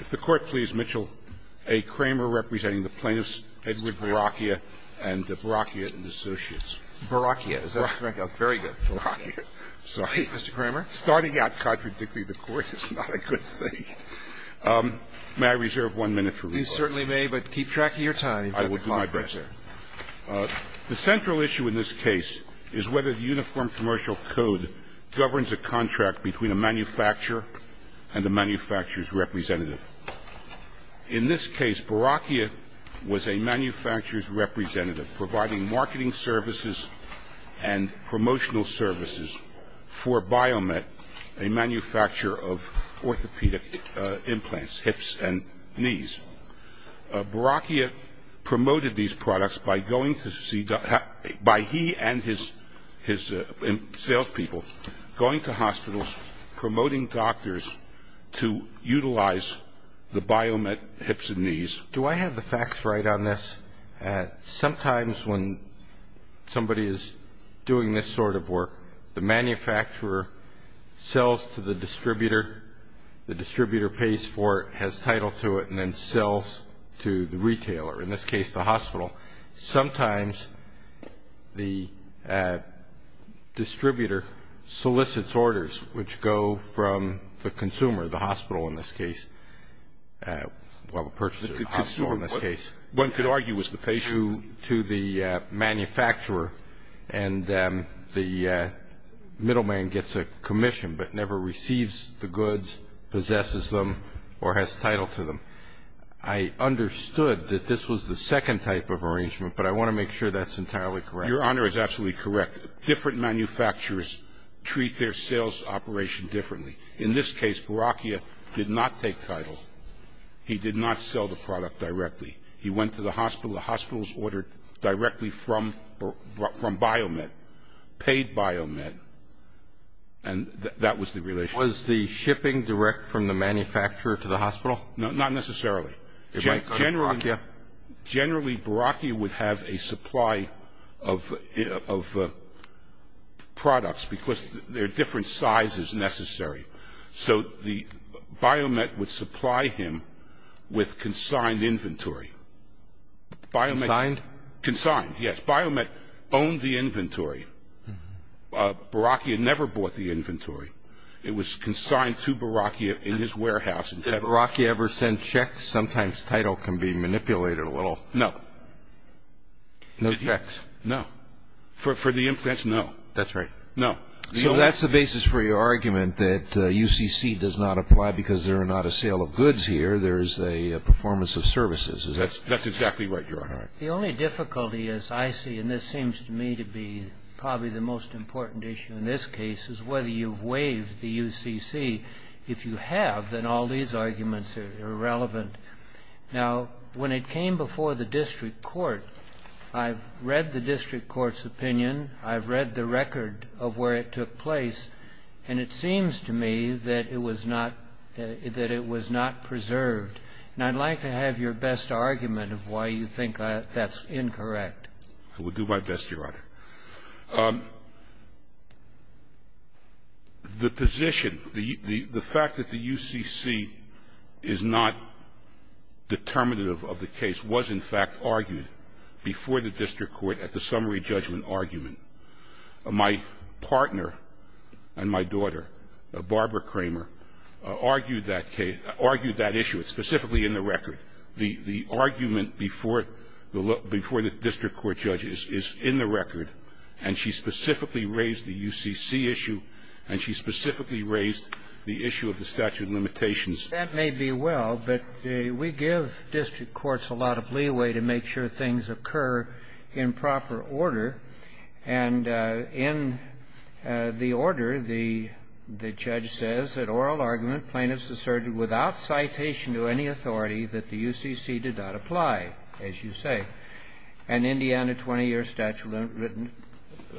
If the Court please, Mitchell, A. Kramer representing the plaintiffs, Edward Boracchia and Boracchia and Associates. Mr. Kramer. Boracchia. Is that correct? Boracchia. Very good. Boracchia. Sorry. Mr. Kramer. Starting out contradicting the Court is not a good thing. May I reserve one minute for rebuttal? You certainly may, but keep track of your time. I will do my best, sir. The central issue in this case is whether the Uniform Commercial Code governs a contract between a manufacturer and a manufacturer's representative. In this case, Boracchia was a manufacturer's representative providing marketing services and promotional services for Biomet, a manufacturer of orthopedic implants, hips and knees. Boracchia promoted these products by going to see the – by he and his salespeople going to hospitals, promoting doctors to utilize the Biomet hips and knees. Do I have the facts right on this? Sometimes when somebody is doing this sort of work, the manufacturer sells to the distributor, the distributor pays for it, has title to it, and then sells to the retailer, in this case the hospital. Sometimes the distributor solicits orders which go from the consumer, the hospital in this case, well, the purchaser of the hospital in this case, to the manufacturer and the middleman gets a commission but never receives the goods, possesses them, or has title to them. I understood that this was the second type of arrangement, but I want to make sure that's entirely correct. Your Honor is absolutely correct. Different manufacturers treat their sales operation differently. In this case, Boracchia did not take title. He did not sell the product directly. He went to the hospital, the hospitals ordered directly from Biomet, paid Biomet, and that was the relationship. Was the shipping direct from the manufacturer to the hospital? No, not necessarily. It might go to Boracchia? Generally, Boracchia would have a supply of products because there are different sizes necessary. So Biomet would supply him with consigned inventory. Consigned? Consigned, yes. Biomet owned the inventory. Boracchia never bought the inventory. It was consigned to Boracchia in his warehouse. Did Boracchia ever send checks? Sometimes title can be manipulated a little. No. No checks? No. For the implants, no. That's right. No. So that's the basis for your argument that UCC does not apply because there are not a sale of goods here. There is a performance of services. That's exactly right, Your Honor. The only difficulty, as I see, and this seems to me to be probably the most important issue in this case, is whether you've waived the UCC. If you have, then all these arguments are irrelevant. Now, when it came before the district court, I've read the district court's opinion. I've read the record of where it took place. And it seems to me that it was not preserved. And I'd like to have your best argument of why you think that's incorrect. I will do my best, Your Honor. The position, the fact that the UCC is not determinative of the case was, in fact, argued before the district court at the summary judgment argument. My partner and my daughter, Barbara Kramer, argued that case, argued that issue. It's specifically in the record. The argument before the district court judge is in the record, and she specifically raised the UCC issue, and she specifically raised the issue of the statute of limitations. That may be well, but we give district courts a lot of leeway to make sure things occur in proper order. And in the order, the judge says that oral argument plaintiffs asserted without citation to any authority that the UCC did not apply, as you say, and Indiana 20-year statute written,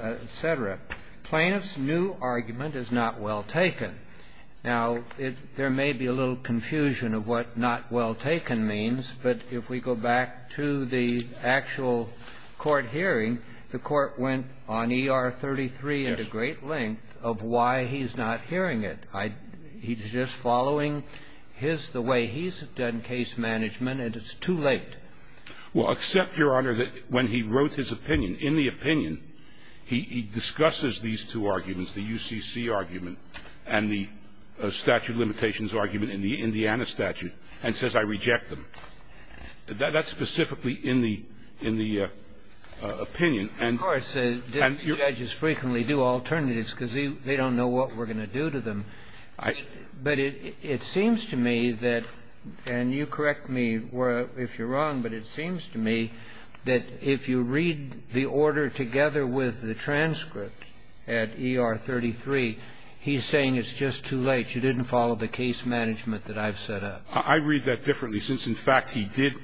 et cetera. Plaintiffs' new argument is not well taken. Now, there may be a little confusion of what not well taken means, but if we go back to the actual court hearing, the court went on E.R. 33 at a great length of why he's not hearing it. He's just following his the way he's done case management, and it's too late. Well, except, Your Honor, that when he wrote his opinion, in the opinion, he discusses these two arguments, the UCC argument and the statute of limitations argument in the Indiana statute, and says, I reject them. That's specifically in the opinion. And you're going to do that? Of course. Judges frequently do alternatives because they don't know what we're going to do to them. But it seems to me that, and you correct me if you're wrong, but it seems to me that if you read the order together with the transcript at E.R. 33, he's saying it's just too late, you didn't follow the case management that I've set up. I read that differently, since, in fact, he did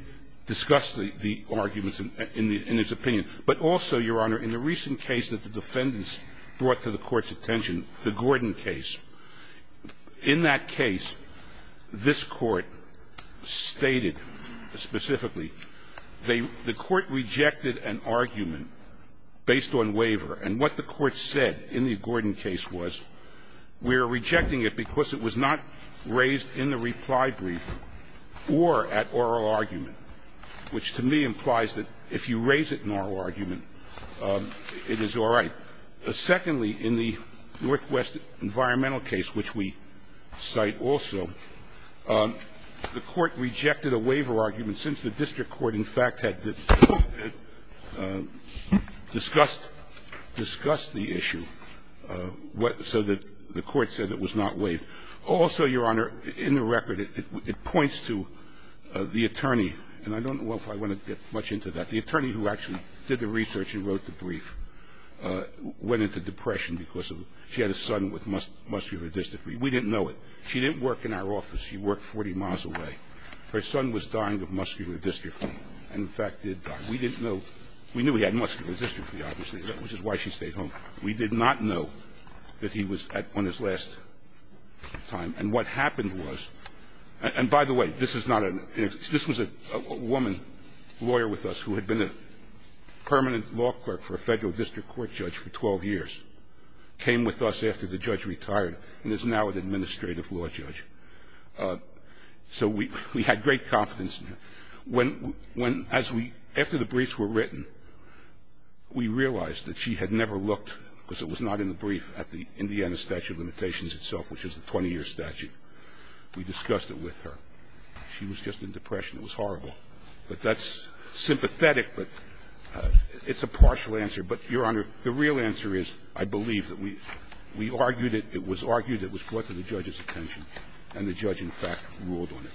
discuss the arguments in his opinion. But also, Your Honor, in the recent case that the defendants brought to the Court's attention, the Gordon case, in that case, this Court stated specifically, the Court rejected an argument based on waiver. And what the Court said in the Gordon case was, we're rejecting it because it was not raised in the reply brief or at oral argument, which to me implies that if you raise it in oral argument, it is all right. Secondly, in the Northwest environmental case, which we cite also, the Court rejected a waiver argument, since the district court, in fact, had discussed the issue, so the Court said it was not waived. Also, Your Honor, in the record, it points to the attorney, and I don't know if I want to get much into that, the attorney who actually did the research and wrote the brief went into depression because she had a son with muscular dystrophy. We didn't know it. She didn't work in our office. She worked 40 miles away. Her son was dying of muscular dystrophy and, in fact, did die. We didn't know. We knew he had muscular dystrophy, obviously, which is why she stayed home. We did not know that he was on his last time. And what happened was – and by the way, this is not a – this was a woman lawyer with us who had been a permanent law clerk for a Federal district court judge for 12 years, came with us after the judge retired and is now an administrative law judge. So we had great confidence in her. When, as we – after the briefs were written, we realized that she had never looked because it was not in the brief at the Indiana statute of limitations itself, which is the 20-year statute. We discussed it with her. She was just in depression. It was horrible. But that's sympathetic, but it's a partial answer. But, Your Honor, the real answer is I believe that we argued it. It was argued. It was brought to the judge's attention. And the judge, in fact, ruled on it.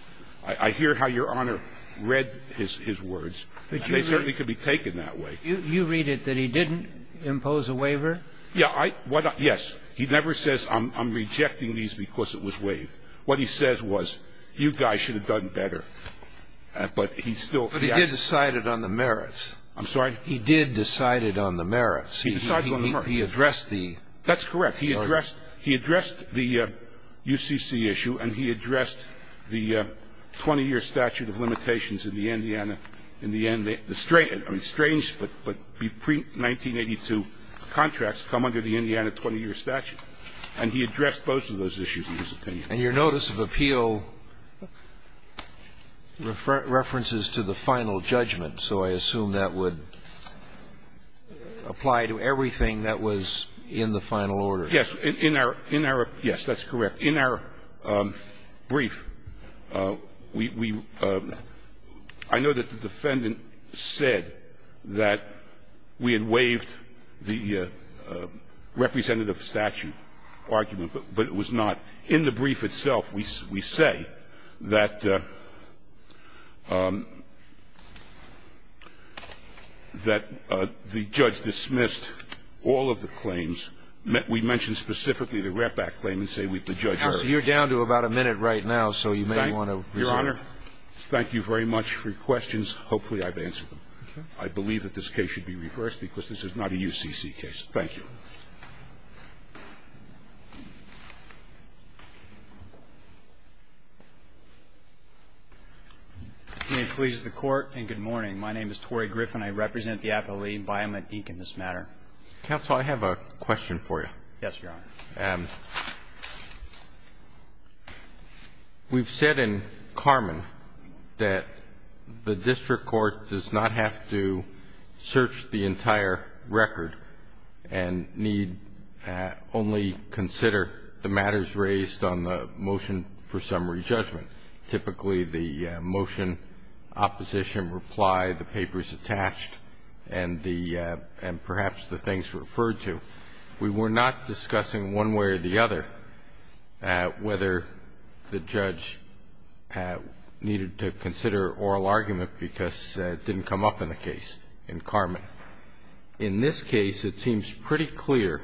I hear how Your Honor read his words. And they certainly could be taken that way. You read it that he didn't impose a waiver? Yes. He never says I'm rejecting these because it was waived. What he says was you guys should have done better. But he still – But he did decide it on the merits. I'm sorry? He did decide it on the merits. He decided on the merits. He addressed the – That's correct. He addressed the UCC issue and he addressed the 20-year statute of limitations in the Indiana – in the end, the strange – I mean, strange, but pre-1982 contracts come under the Indiana 20-year statute. And he addressed both of those issues in his opinion. And your notice of appeal references to the final judgment. So I assume that would apply to everything that was in the final order. Yes. In our – yes, that's correct. In our brief, we – I know that the defendant said that we had waived the representative statute argument, but it was not. In the brief itself, we say that the judge dismissed all of the claims. We mention specifically the Ratback claim and say the judge – Counsel, you're down to about a minute right now, so you may want to resume. Thank you, Your Honor. Thank you very much for your questions. Hopefully I've answered them. Okay. I believe that this case should be reversed because this is not a UCC case. Thank you. May it please the Court. And good morning. My name is Torrey Griffin. I represent the Appellee Environment, Inc. in this matter. Counsel, I have a question for you. Yes, Your Honor. We've said in Carman that the district court does not have to search the entire record and need only consider the matters raised on the motion for summary judgment. Typically the motion, opposition, reply, the papers attached, and perhaps the things referred to. We were not discussing one way or the other whether the judge needed to consider oral argument because it didn't come up in the case in Carman. In this case, it seems pretty clear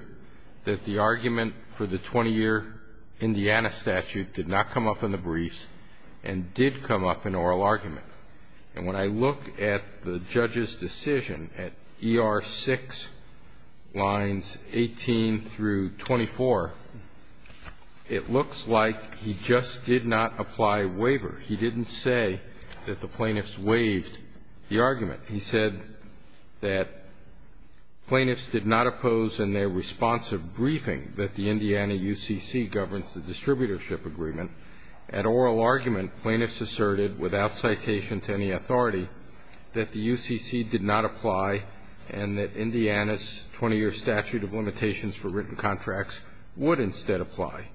that the argument for the 20-year Indiana statute did not come up in the briefs and did come up in oral argument. And when I look at the judge's decision at ER6 lines 18 through 24, it looks like he just did not apply waiver. He didn't say that the plaintiffs waived the argument. He said that plaintiffs did not oppose in their response of briefing that the plaintiffs asserted without citation to any authority that the UCC did not apply and that Indiana's 20-year statute of limitations for written contracts would instead apply.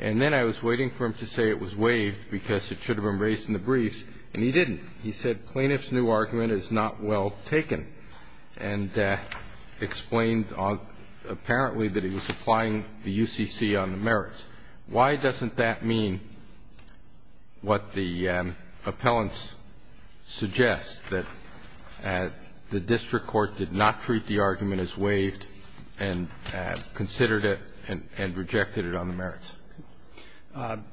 And then I was waiting for him to say it was waived because it should have been raised in the briefs, and he didn't. He said plaintiffs' new argument is not well taken and explained apparently that he was applying the UCC on the merits. Why doesn't that mean what the appellants suggest, that the district court did not treat the argument as waived and considered it and rejected it on the merits?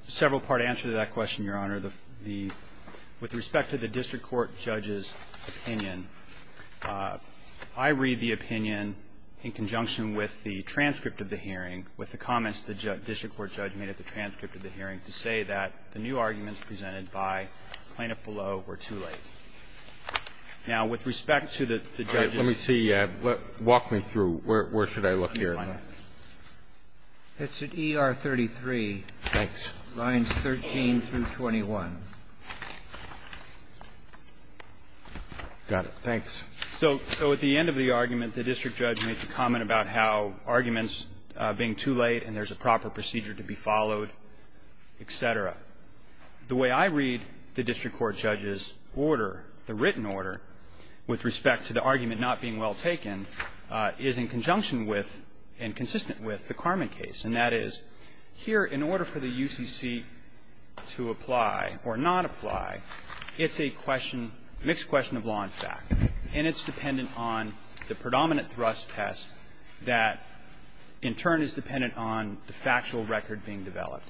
Several part answer to that question, Your Honor. With respect to the district court judge's opinion, I read the opinion in conjunction with the transcript of the hearing, with the comments the district court judge made at the transcript of the hearing to say that the new arguments presented by plaintiff below were too late. Now, with respect to the judge's opinion of the district court judge's opinion, I read the opinion of the district court judge's opinion of the district court judge being too late and there's a proper procedure to be followed, et cetera. The way I read the district court judge's order, the written order, with respect to the argument not being well taken, is in conjunction with and consistent with the Carmen case, and that is, here, in order for the UCC to apply or not apply, it's a question, mixed question of law and fact, and it's dependent on the predominant thrust test that, in turn, is dependent on the factual record being developed.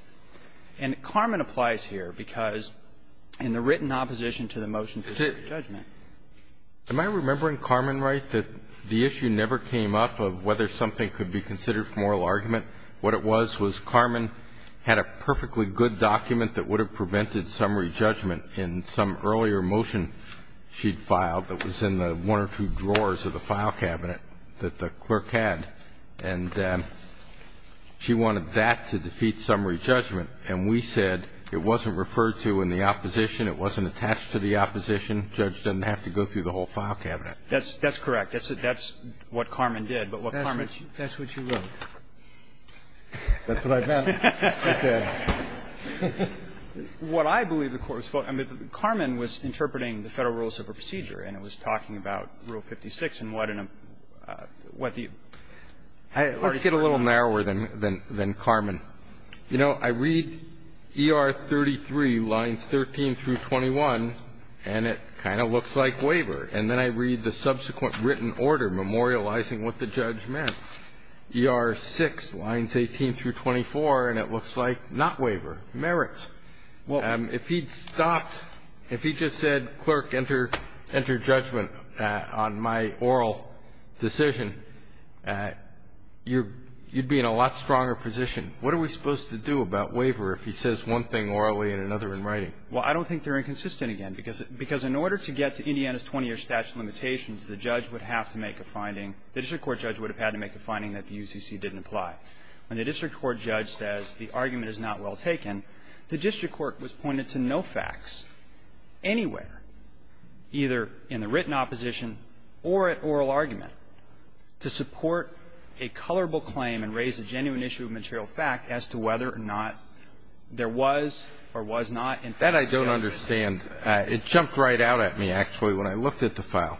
And Carmen applies here because, in the written opposition to the motion for re-judgment. Am I remembering Carmen right, that the issue never came up of whether something could be considered for moral argument? What it was was Carmen had a perfectly good document that would have prevented some re-judgment in some earlier motion she'd filed that was in the one or two drawers of the file cabinet that the clerk had, and she wanted that to defeat some re-judgment. And we said it wasn't referred to in the opposition, it wasn't attached to the opposition. The judge doesn't have to go through the whole file cabinet. That's correct. That's what Carmen did. But what Carmen did. That's what you wrote. That's what I meant. I said. What I believe the Court was supposed to do, I mean, Carmen was interpreting the Federal Rules of Procedure, and it was talking about Rule 56 and what in a, what the. Let's get a little narrower than Carmen. You know, I read E.R. 33, lines 13 through 21, and it kind of looks like waiver. And then I read the subsequent written order memorializing what the judge meant. E.R. 6, lines 18 through 24, and it looks like not waiver, merits. If he'd stopped, if he just said, clerk, enter judgment on my oral decision, you'd be in a lot stronger position. What are we supposed to do about waiver if he says one thing orally and another in writing? Well, I don't think they're inconsistent again, because in order to get to Indiana's 20-year statute of limitations, the judge would have to make a finding, the district court judge would have had to make a finding that the UCC didn't apply. When the district court judge says the argument is not well taken, the district court was pointed to no facts anywhere, either in the written opposition or at oral argument, to support a colorable claim and raise a genuine issue of material fact as to whether or not there was or was not, in fact, sale of goods. That I don't understand. It jumped right out at me, actually, when I looked at the file.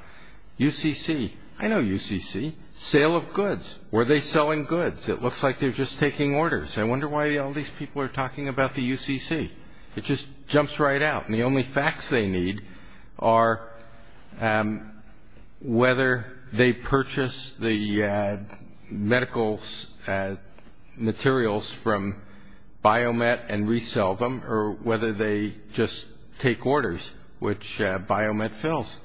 UCC. I know UCC. Sale of goods. Were they selling goods? It looks like they're just taking orders. I wonder why all these people are talking about the UCC. It just jumps right out. And the only facts they need are whether they purchased the medical materials from Biomet and resell them or whether they just take orders, which Biomet fills.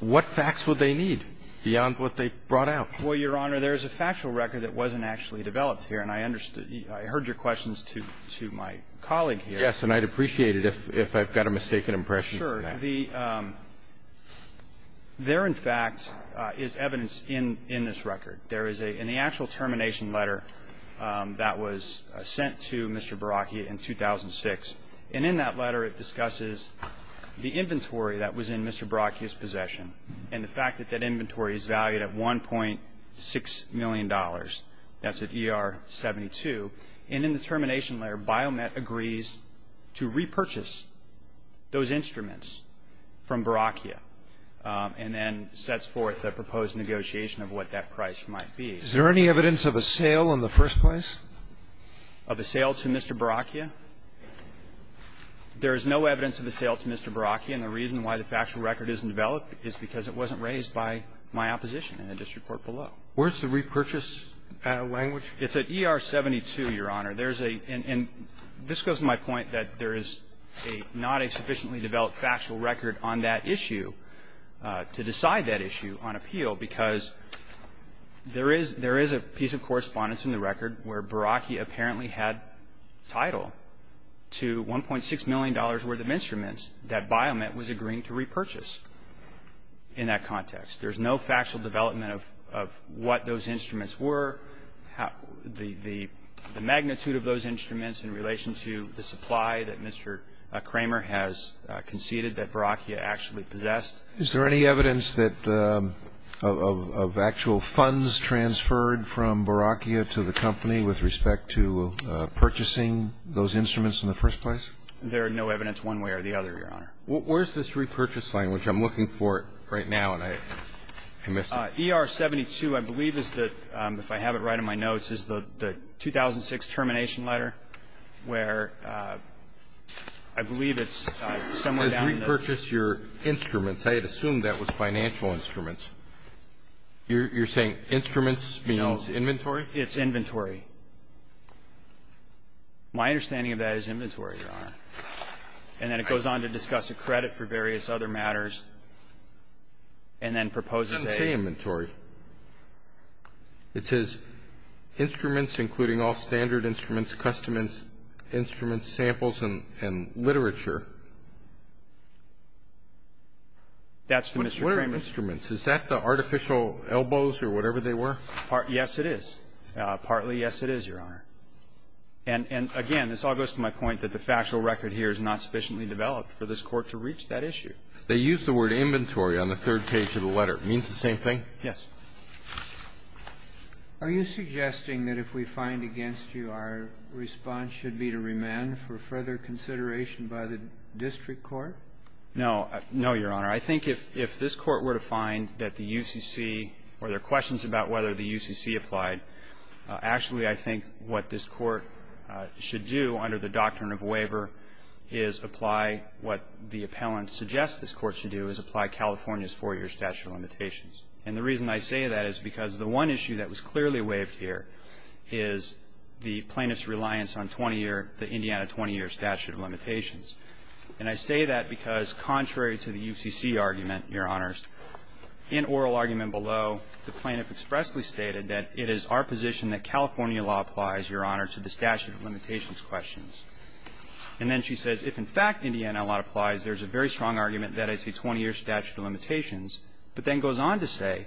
What facts would they need beyond what they brought out? Well, Your Honor, there is a factual record that wasn't actually developed here, and I understood you. I heard your questions to my colleague here. Yes, and I'd appreciate it if I've got a mistaken impression. Sure. There, in fact, is evidence in this record. There is a actual termination letter that was sent to Mr. Baraki in 2006, and in that letter it discusses the inventory that was in Mr. Baraki's possession and the fact that that inventory is valued at $1.6 million. That's at ER 72. And in the termination letter, Biomet agrees to repurchase those instruments from Baraki and then sets forth a proposed negotiation of what that price might be. Is there any evidence of a sale in the first place? Of a sale to Mr. Baraki? There is no evidence of a sale to Mr. Baraki, and the reason why the factual record isn't developed is because it wasn't raised by my opposition in the district court below. Where's the repurchase language? It's at ER 72, Your Honor. There's a – and this goes to my point that there is a – not a sufficiently developed factual record on that issue to decide that issue on appeal, because there is – there is a piece of correspondence in the record where Baraki apparently had title to $1.6 million worth of instruments that Biomet was agreeing to repurchase. In that context, there's no factual development of what those instruments were, how – the magnitude of those instruments in relation to the supply that Mr. Kramer has conceded that Baraki actually possessed. Is there any evidence that – of actual funds transferred from Baraki to the company with respect to purchasing those instruments in the first place? There is no evidence one way or the other, Your Honor. Where's this repurchase language? I'm looking for it right now, and I missed it. ER 72, I believe, is the – if I have it right in my notes, is the 2006 termination letter, where I believe it's somewhere down the – It says repurchase your instruments. I had assumed that was financial instruments. You're saying instruments means inventory? It's inventory. My understanding of that is inventory, Your Honor. And then it goes on to discuss a credit for various other matters and then proposes It doesn't say inventory. It says instruments, including all standard instruments, custom instruments, samples, and literature. That's to Mr. Kramer. What are instruments? Is that the artificial elbows or whatever they were? Yes, it is. Partly yes, it is, Your Honor. And again, this all goes to my point that the factual record here is not sufficiently developed for this Court to reach that issue. They use the word inventory on the third page of the letter. It means the same thing? Yes. Are you suggesting that if we find against you, our response should be to remand for further consideration by the district court? No. No, Your Honor. I think if this Court were to find that the UCC or there are questions about whether the UCC applied, actually I think what this Court should do under the doctrine of waiver is apply what the appellant suggests this Court should do is apply California's four-year statute of limitations. And the reason I say that is because the one issue that was clearly waived here is the plaintiff's reliance on 20-year, the Indiana 20-year statute of limitations. And I say that because contrary to the UCC argument, Your Honors, in oral argument below, the plaintiff expressly stated that it is our position that California law applies, Your Honor, to the statute of limitations questions. And then she says if in fact Indiana law applies, there's a very strong argument that it's a 20-year statute of limitations, but then goes on to say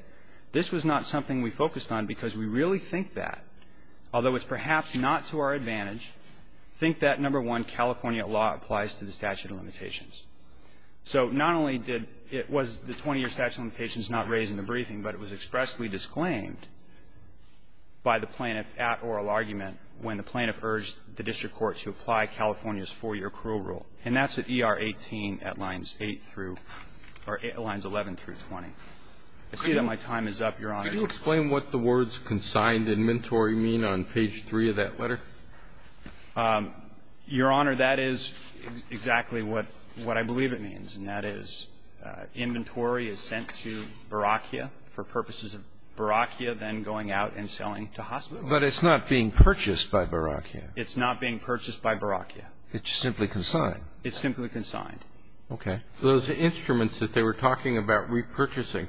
this was not something we focused on because we really think that. Although it's perhaps not to our advantage, think that, number one, California law applies to the statute of limitations. So not only did it was the 20-year statute of limitations not raised in the briefing, but it was expressly disclaimed by the plaintiff at oral argument when the plaintiff urged the district court to apply California's four-year accrual rule. And that's at ER 18 at lines 8 through or lines 11 through 20. I see that my time is up, Your Honor. Kennedy. Can you explain what the words consigned and mentoree mean on page 3 of that letter? Your Honor, that is exactly what I believe it means, and that is inventory is sent to Barakia for purposes of Barakia then going out and selling to hospitals. But it's not being purchased by Barakia. It's not being purchased by Barakia. It's simply consigned. It's simply consigned. Okay. Those instruments that they were talking about repurchasing,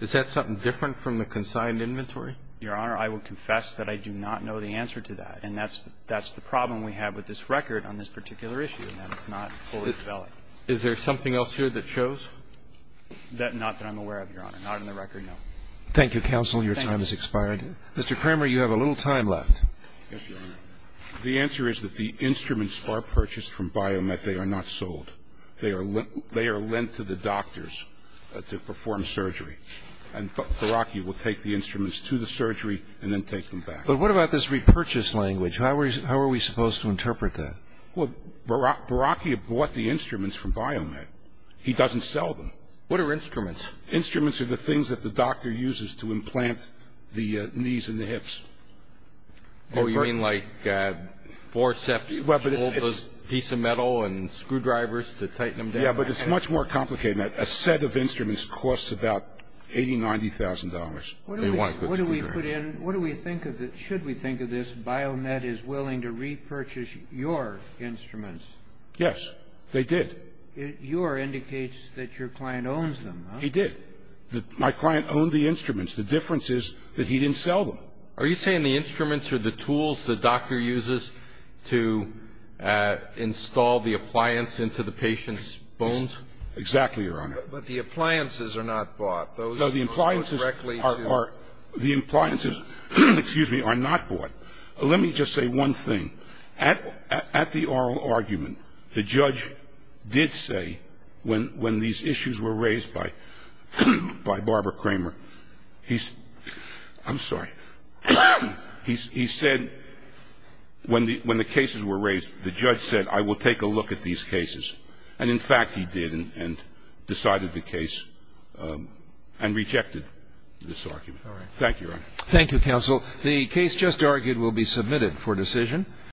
is that something different from the consigned inventory? Your Honor, I will confess that I do not know the answer to that. And that's the problem we have with this record on this particular issue, that it's not fully developed. Is there something else here that shows? Not that I'm aware of, Your Honor. Not in the record, no. Thank you, counsel. Your time has expired. Mr. Cramer, you have a little time left. Yes, Your Honor. The answer is that the instruments are purchased from Biomet. They are not sold. They are lent to the doctors to perform surgery. And Barakia will take the instruments to the surgery and then take them back. But what about this repurchase language? How are we supposed to interpret that? Well, Barakia bought the instruments from Biomet. He doesn't sell them. What are instruments? Instruments are the things that the doctor uses to implant the knees and the hips. Oh, you mean like forceps, a piece of metal and screwdrivers to tighten them down? Yeah, but it's much more complicated than that. A set of instruments costs about $80,000, $90,000. What do we put in? Should we think of this, Biomet is willing to repurchase your instruments? Yes, they did. Your indicates that your client owns them, huh? He did. My client owned the instruments. The difference is that he didn't sell them. Are you saying the instruments are the tools the doctor uses to install the appliance into the patient's bones? Exactly, Your Honor. But the appliances are not bought. No, the appliances are not bought. Let me just say one thing. At the oral argument, the judge did say when these issues were raised by Barbara Kramer, he's ‑‑ I'm sorry. He said when the cases were raised, the judge said I will take a look at these cases. And, in fact, he did and decided the case and rejected this argument. All right. Thank you, Your Honor. Thank you, counsel. The case just argued will be submitted for decision.